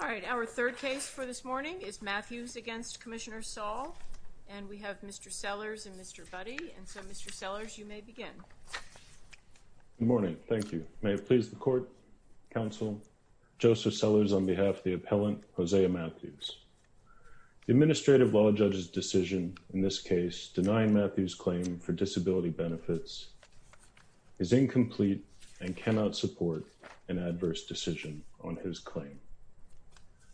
All right, our third case for this morning is Matthews against Commissioner Saul and we have Mr. Sellers and Mr. Budde and so Mr. Sellers you may begin. Good morning, thank you. May it please the court, counsel, Joseph Sellers on behalf of the appellant Hosea Matthews. The administrative law judge's decision in this case denying Matthews' claim for disability benefits is incomplete and adverse decision on his claim.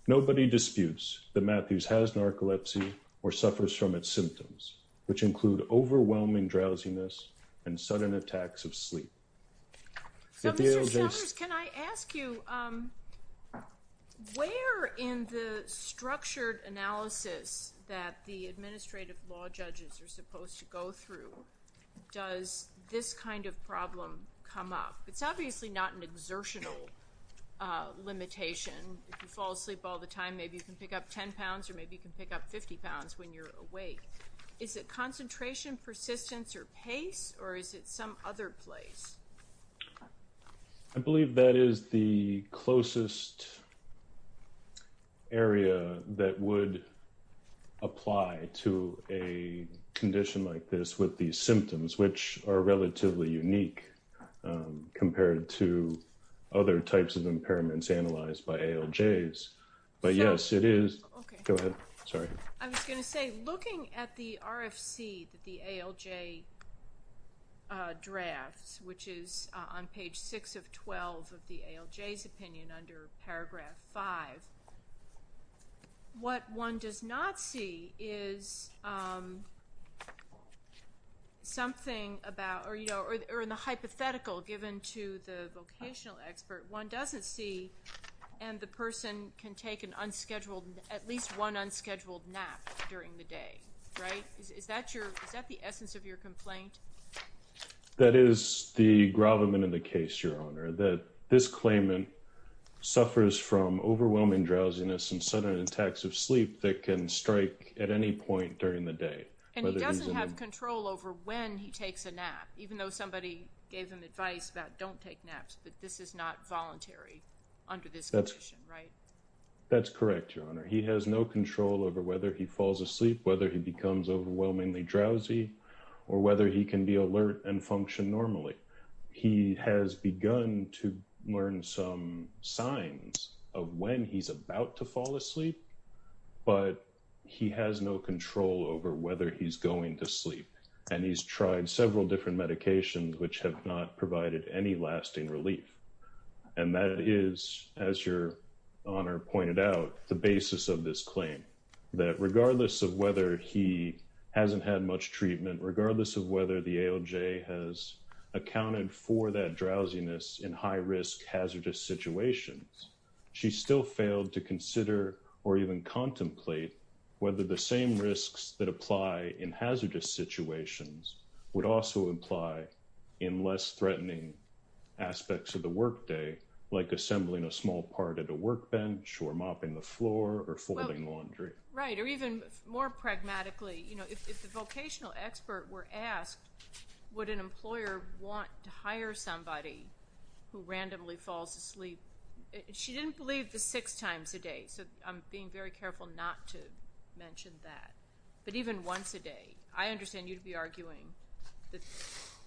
Nobody disputes that Matthews has narcolepsy or suffers from its symptoms which include overwhelming drowsiness and sudden attacks of sleep. So Mr. Sellers, can I ask you, where in the structured analysis that the administrative law judges are supposed to go through does this kind of problem come up? It's obviously not an exertional limitation. If you fall asleep all the time maybe you can pick up 10 pounds or maybe you can pick up 50 pounds when you're awake. Is it concentration, persistence, or pace or is it some other place? I believe that is the closest area that would apply to a condition like this with these symptoms which are relatively unique compared to other types of impairments analyzed by ALJs. But yes, it is. I was going to say looking at the RFC that the ALJ drafts which is on page 6 of 12 of the ALJ's opinion under paragraph 5, what one does not see is something about or in the hypothetical given to the vocational expert, one doesn't see and the person can take an unscheduled, at least one unscheduled nap during the day, right? Is that the essence of your complaint? That is the gravamen in the case, Your Honor. That this occurs from overwhelming drowsiness and sudden attacks of sleep that can strike at any point during the day. And he doesn't have control over when he takes a nap, even though somebody gave him advice about don't take naps, but this is not voluntary under this condition, right? That's correct, Your Honor. He has no control over whether he falls asleep, whether he becomes overwhelmingly drowsy, or whether he can be alert and function normally. He has begun to learn some signs of when he's about to fall asleep, but he has no control over whether he's going to sleep. And he's tried several different medications which have not provided any lasting relief. And that is, as Your Honor pointed out, the basis of this claim, that regardless of whether he hasn't had much treatment, regardless of whether the AOJ has accounted for that drowsiness in high-risk, hazardous situations, she still failed to consider or even contemplate whether the same risks that apply in hazardous situations would also apply in less threatening aspects of the workday, like assembling a small part at a workbench, or mopping the floor, or folding laundry. Right, or even more pragmatically, you know, if the would an employer want to hire somebody who randomly falls asleep? She didn't believe the six times a day, so I'm being very careful not to mention that. But even once a day, I understand you'd be arguing that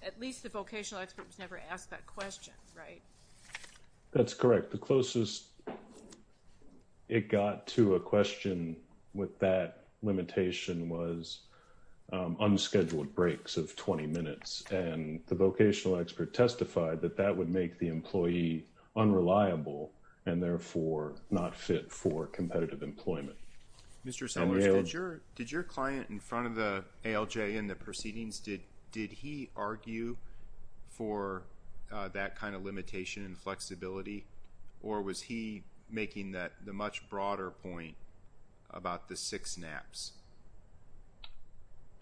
at least the vocational expert was never asked that question, right? That's correct. The closest it got to a question with that limitation was unscheduled breaks of 20 minutes. And the vocational expert testified that that would make the employee unreliable and therefore not fit for competitive employment. Mr. Sellers, did your client in front of the AOJ in the proceedings, did he argue for that kind of limitation and flexibility, or was he making that the much broader point about the six naps?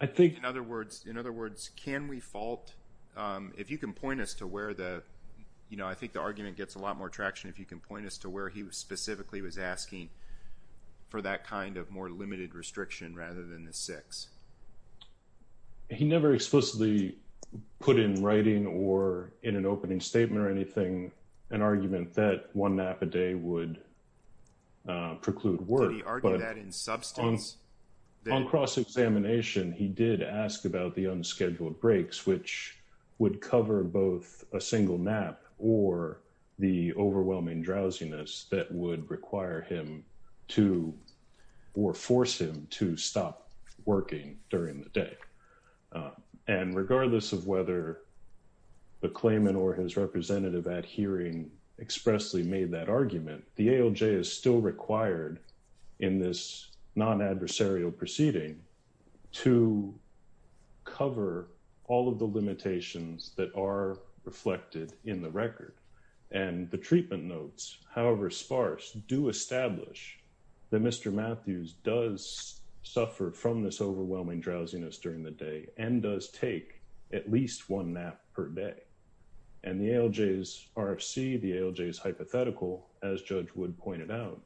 I think... In other words, in other words, can we fault, if you can point us to where the, you know, I think the argument gets a lot more traction if you can point us to where he specifically was asking for that kind of more limited restriction rather than the six. He never explicitly put in writing or in an argument that one nap a day would preclude work. Did he argue that in substance? On cross examination, he did ask about the unscheduled breaks, which would cover both a single nap or the overwhelming drowsiness that would require him to or force him to stop working during the day. And regardless of whether the claimant or his representative at hearing expressly made that argument, the AOJ is still required in this non-adversarial proceeding to cover all of the limitations that are reflected in the record. And the treatment notes, however sparse, do establish that Mr. Matthews does suffer from this overwhelming nap per day. And the AOJ's RFC, the AOJ's hypothetical, as Judge Wood pointed out,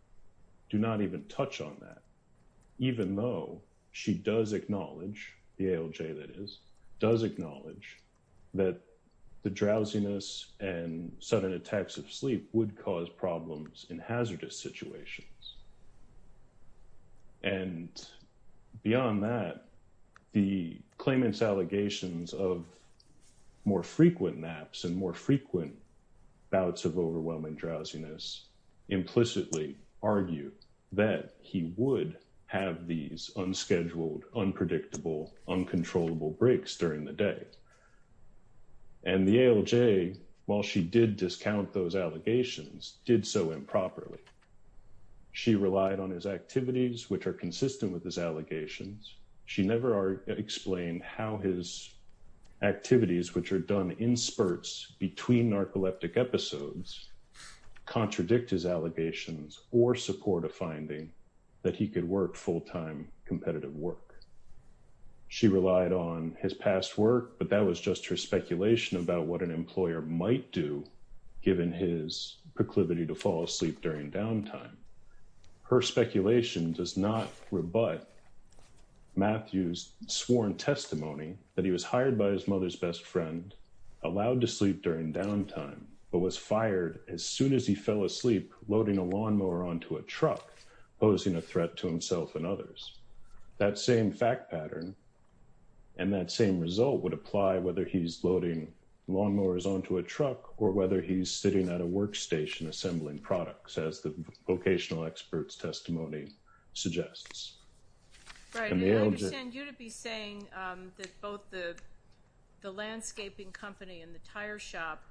do not even touch on that, even though she does acknowledge, the AOJ that is, does acknowledge that the drowsiness and sudden attacks of sleep would cause problems in hazardous situations. And beyond that, the claimant's allegations of more frequent naps and more frequent bouts of overwhelming drowsiness implicitly argue that he would have these unscheduled, unpredictable, uncontrollable breaks during the day. And the AOJ, while she did discount those allegations, did so improperly. She relied on his activities, which are consistent with his allegations. She never explained how his activities, which are done in spurts between narcoleptic episodes, contradict his allegations or support a finding that he could work full-time competitive work. She relied on his past work, but that was just her speculation about what an employer might do, given his proclivity to fall asleep during downtime. Her speculation does not rebut Matthew's sworn testimony that he was hired by his mother's best friend, allowed to sleep during downtime, but was fired as soon as he fell asleep, loading a lawnmower onto a truck, posing a threat to himself and others. That same fact pattern and that same result would apply whether he's loading lawnmowers onto a workstation assembling products, as the vocational expert's testimony suggests. Right, and I understand you to be saying that both the landscaping company and the tire shop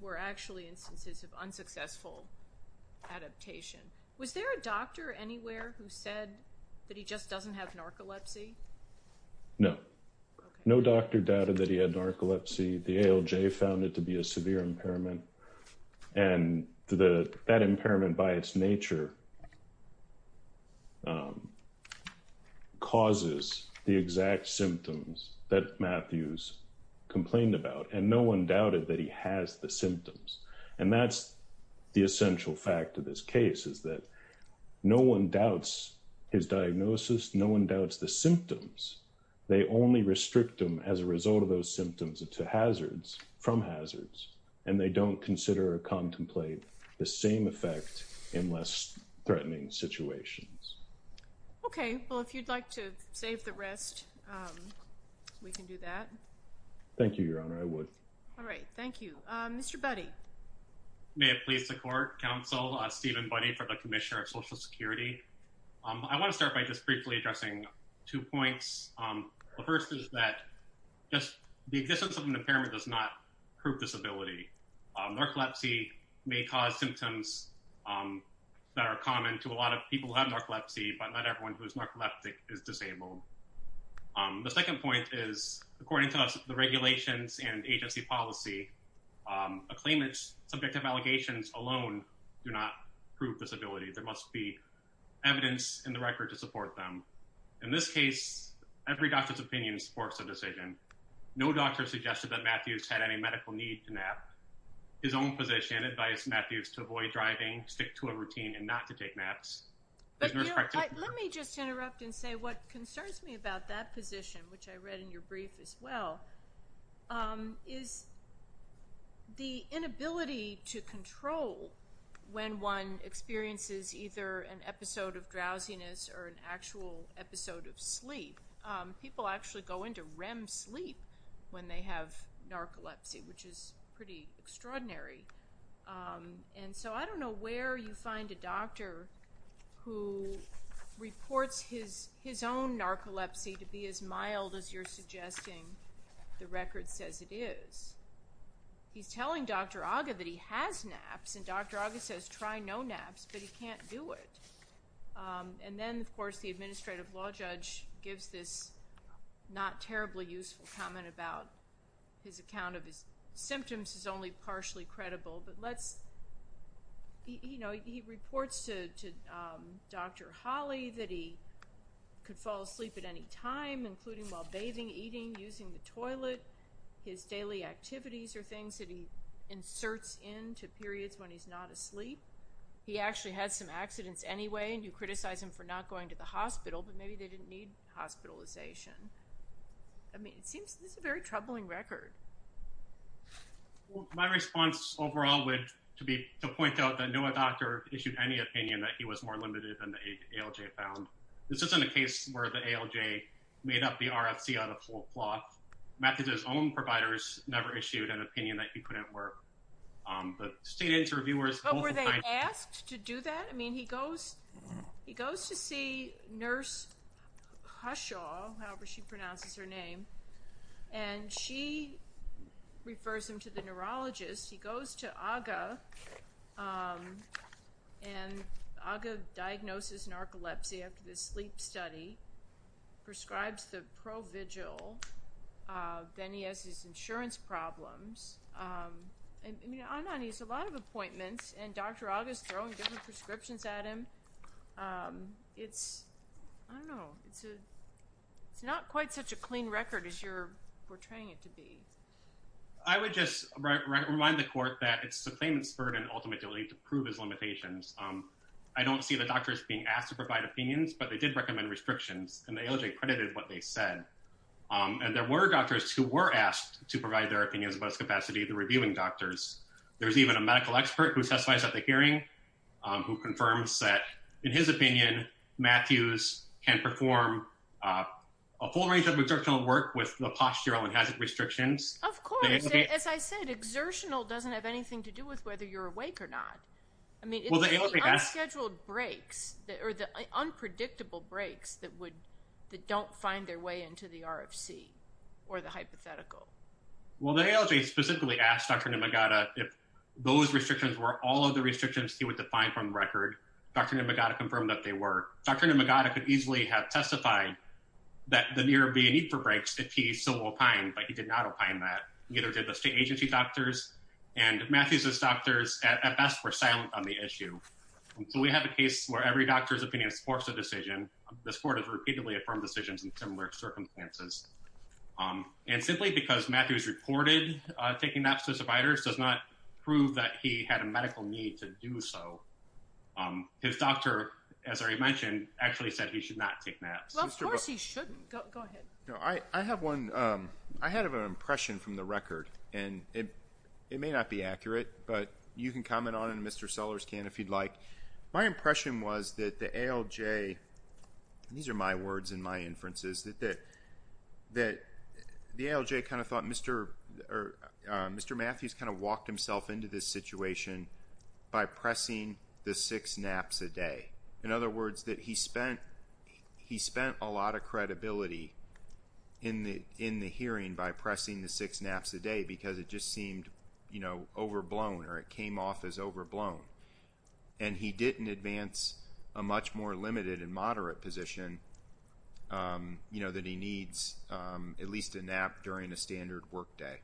were actually instances of unsuccessful adaptation. Was there a doctor anywhere who said that he just doesn't have narcolepsy? No. No doctor doubted that he had narcolepsy. The AOJ found it to be a and that impairment by its nature causes the exact symptoms that Matthew's complained about. And no one doubted that he has the symptoms. And that's the essential fact of this case is that no one doubts his diagnosis. No one doubts the symptoms. They only restrict them as a result of those symptoms to hazards from hazards, and they don't consider or contemplate the same effect in less threatening situations. Okay, well, if you'd like to save the rest, um, we can do that. Thank you, Your Honor. I would. All right. Thank you, Mr Buddy. May it please the court Council Stephen Buddy for the Commissioner of Social Security. I want to start by just briefly addressing two points. The first is that just the existence of an impairment does not prove disability. Narcolepsy may cause symptoms that are common to a lot of people who have narcolepsy, but not everyone who is narcoleptic is disabled. The second point is, according to the regulations and agency policy, a claimant's subjective allegations alone do not prove disability. There must be in this case, every doctor's opinion supports a decision. No doctor suggested that Matthews had any medical need to nap. His own position advised Matthews to avoid driving, stick to a routine and not to take naps. But let me just interrupt and say what concerns me about that position, which I read in your brief as well, um, is the inability to control when one experiences either an episode of sleep. People actually go into REM sleep when they have narcolepsy, which is pretty extraordinary. Um, and so I don't know where you find a doctor who reports his his own narcolepsy to be as mild as you're suggesting the record says it is. He's telling Dr Agha that he has naps and Dr Agha says try no naps, but he can't do it. Um, and then, of course, the administrative law judge gives this not terribly useful comment about his account of his symptoms is only partially credible. But let's, you know, he reports to Dr Holly that he could fall asleep at any time, including while bathing, eating, using the toilet. His daily activities or things that he inserts into periods when he's not asleep. He actually had some accidents anyway, and you criticize him for not going to the hospital, but maybe they didn't need hospitalization. I mean, it seems this is a very troubling record. My response overall would to be to point out that no doctor issued any opinion that he was more limited than the ALJ found. This isn't a case where the ALJ made up the RFC out of whole cloth. Methadone's own providers never issued an opinion that he couldn't work. Um, but state interviewers... asked to do that. I mean, he goes, he goes to see Nurse Hushaw, however she pronounces her name, and she refers him to the neurologist. He goes to Agha, um, and Agha diagnoses narcolepsy after the sleep study, prescribes the provigil. Uh, then he has his insurance problems. Um, I mean, Anand needs a lot of appointments, and Dr. Agha's throwing different prescriptions at him. Um, it's, I don't know, it's a, it's not quite such a clean record as you're portraying it to be. I would just remind the court that it's the claimant's burden ultimately to prove his limitations. Um, I don't see the doctors being asked to provide opinions, but they did recommend restrictions, and the ALJ credited what they said. Um, and there were doctors who were asked to provide their opinions about his capacity, the reviewing doctors. There's even a medical expert who testifies at the hearing, um, who confirms that, in his opinion, Matthews can perform, uh, a full range of exertional work with the postural and hazard restrictions. Of course. As I said, exertional doesn't have anything to do with whether you're awake or not. I mean, it's the unscheduled breaks, or the unpredictable breaks that would, that don't find their way into the RFC, or the hypothetical. Well, the ALJ specifically asked Dr. Nymagata if those restrictions were all of the restrictions he would define from the record. Dr. Nymagata confirmed that they were. Dr. Nymagata could easily have testified that there would be a need for breaks if he so opined, but he did not opine that. Neither did the state agency doctors, and Matthews' doctors at best were silent on the issue. So we have a case where every doctor's opinion supports a decision. This court has repeatedly affirmed decisions in similar circumstances. Um, and simply because Matthews reported, uh, taking naps to survivors does not prove that he had a medical need to do so. Um, his doctor, as I mentioned, actually said he should not take naps. Well, of course he shouldn't. Go ahead. No, I, I have one, um, I had an impression from the record, and it, it may not be accurate, but you can comment on it, Mr. Sellers can, if you'd like. My impression was that the ALJ, these are my words and my inferences, that, that the ALJ kind of thought Mr., uh, Mr. Matthews kind of walked himself into this situation by pressing the six naps a day. In other words, that he spent, he spent a lot of credibility in the, in the hearing by pressing the six naps a day because it just seemed, you know, overblown or it came off as overblown. And he didn't advance a much more limited and you know, that he needs, um, at least a nap during a standard workday.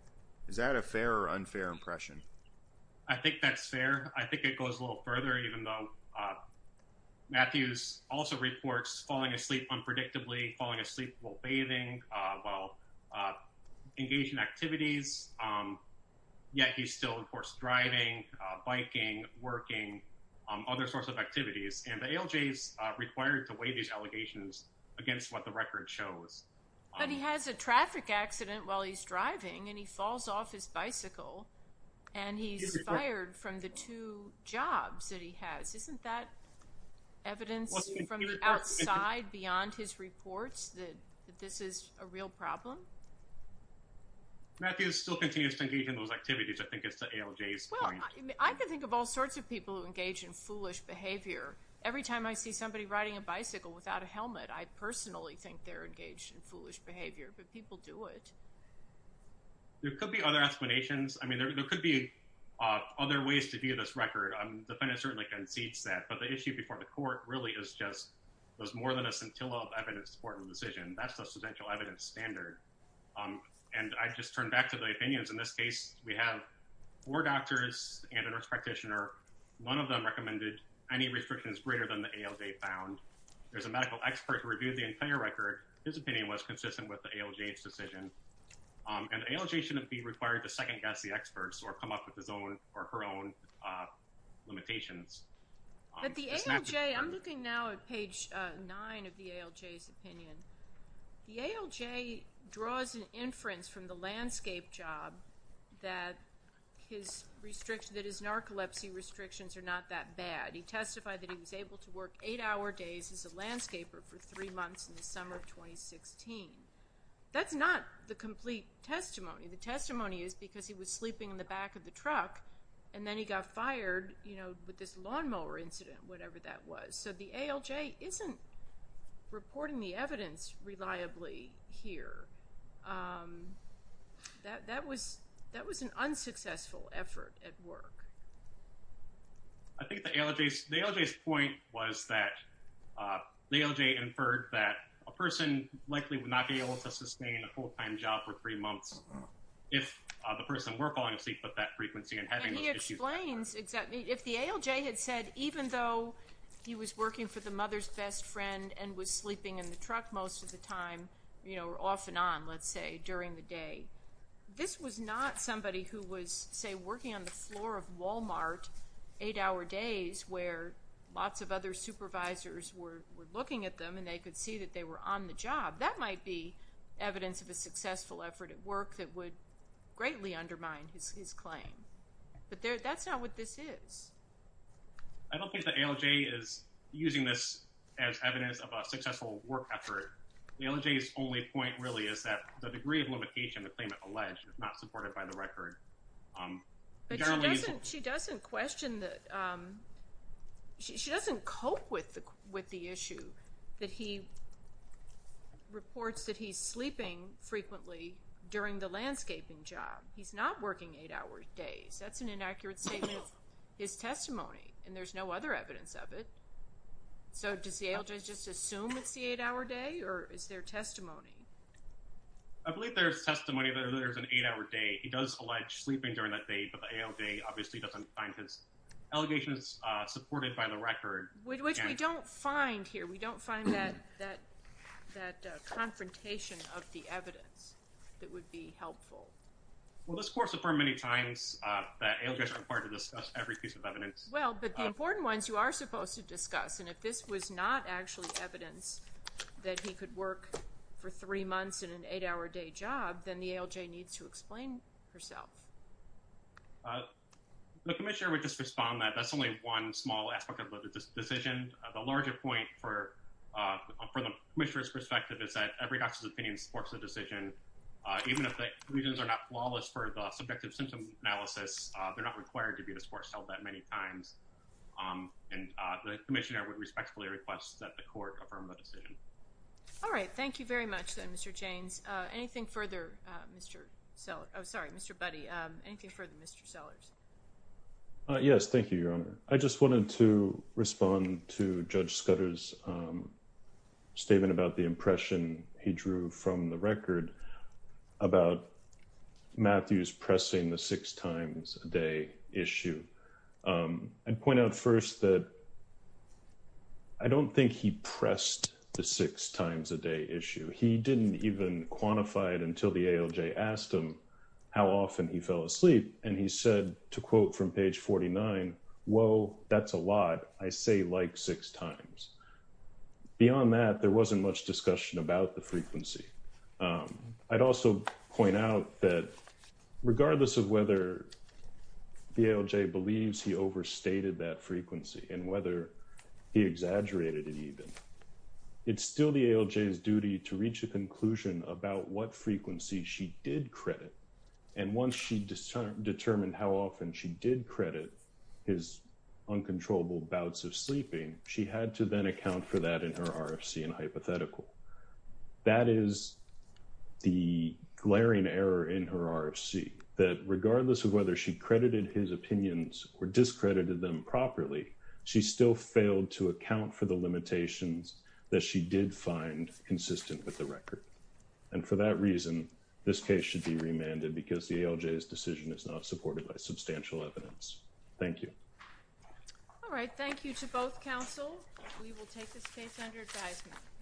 Is that a fair or unfair impression? I think that's fair. I think it goes a little further, even though, uh, Matthews also reports falling asleep unpredictably, falling asleep while bathing, uh, while, uh, engaged in activities. Um, yeah, he's still, of course, driving, uh, biking, working, um, other sorts of activities. And the record shows. But he has a traffic accident while he's driving and he falls off his bicycle and he's fired from the two jobs that he has. Isn't that evidence from the outside beyond his reports that this is a real problem? Matthews still continues to engage in those activities. I think it's the ALJ's point. I can think of all sorts of people who engage in foolish behavior. Every time I see somebody riding a bicycle without a helmet, I personally think they're engaged in foolish behavior, but people do it. There could be other explanations. I mean, there could be, uh, other ways to view this record. Um, the defendant certainly concedes that, but the issue before the court really is just, there's more than a scintilla of evidence to support the decision. That's the substantial evidence standard. Um, and I just turned back to the opinions. In this case, we have four doctors and a nurse practitioner. None of them recommended any restrictions greater than the ALJ found. There's a medical expert who reviewed the entire record. His opinion was consistent with the ALJ's decision. Um, and the ALJ shouldn't be required to second guess the experts or come up with his own or her own, uh, limitations. But the ALJ, I'm looking now at page nine of the ALJ's opinion. The ALJ draws an inference from the landscape job that his restriction, that his narcolepsy restrictions are not that bad. He testified that he was able to work eight hour days as a landscaper for three months in the summer of 2016. That's not the complete testimony. The testimony is because he was sleeping in the back of the truck and then he got fired, you know, with this lawnmower incident, whatever that was. So the ALJ isn't reporting the evidence reliably here. Um, that, that was, that was an unsuccessful effort at work. I think the ALJ's, the ALJ's point was that, uh, the ALJ inferred that a person likely would not be able to sustain a full time job for three months if the person were falling asleep at that frequency and having those issues. He explains exactly, if the ALJ had said, even though he was working for the mother's best friend and was sleeping in the truck most of the time, you know, were off and on, let's say, during the day. This was not somebody who was, say, working on the floor of Walmart, eight hour days, where lots of other supervisors were looking at them and they could see that they were on the job. That might be evidence of a successful effort at work that would greatly undermine his claim. But that's not what this is. I don't think the ALJ is using this as evidence of a successful work effort. The ALJ's only point really is that the degree of limitation the claimant alleged is not supported by the record. But she doesn't, she doesn't question the, um, she doesn't cope with the, with the issue that he reports that he's sleeping frequently during the landscaping job. He's not working eight hour days. That's an inaccurate statement of his testimony and there's no other evidence of it. So does the ALJ just assume it's the eight hour day or is there testimony? I believe there's testimony that there's an eight hour day. He does allege sleeping during that day, but the ALJ obviously doesn't find his allegations supported by the record. Which we don't find here. We don't find that, that, that confrontation of the evidence that would be helpful. Well, this court affirmed many times that ALJs are required to discuss every piece of evidence. Well, but the important ones you are supposed to discuss, and if this was not actually evidence that he could work for three months in an eight hour day job, then the ALJ needs to explain herself. The commissioner would just respond that that's only one small aspect of the decision. The larger point for, uh, from the commissioner's perspective is that every doctor's opinion supports the decision. Uh, even if the reasons are not flawless for the subjective symptom analysis, uh, they're not required to respectfully request that the court affirm the decision. All right. Thank you very much. Then, Mr. James. Anything further, Mr. Seller? I'm sorry, Mr. Buddy. Um, anything further, Mr Sellers? Yes. Thank you, Your Honor. I just wanted to respond to Judge Scudder's, um, statement about the impression he drew from the record about Matthew's pressing the six times a day issue. Um, I'd point out first that I don't think he pressed the six times a day issue. He didn't even quantify it until the ALJ asked him how often he fell asleep. And he said, to quote from page 49, Well, that's a lot. I say like six times. Beyond that, there wasn't much discussion about the frequency. Um, I'd also point out that regardless of whether the ALJ believes he overstated that frequency and whether he exaggerated it even, it's still the ALJ's duty to reach a conclusion about what frequency she did credit. And once she determined how often she did credit his uncontrollable bouts of sleeping, she had to then account for that in her RFC and hypothetical. That is the glaring error in her RFC that regardless of whether she credited his opinions or discredited them properly, she still failed to account for the limitations that she did find consistent with the record. And for that reason, this case should be remanded because the ALJ's decision is not supported by substantial evidence. Thank you. All right. Thank you to both counsel. We will take this case under advisement.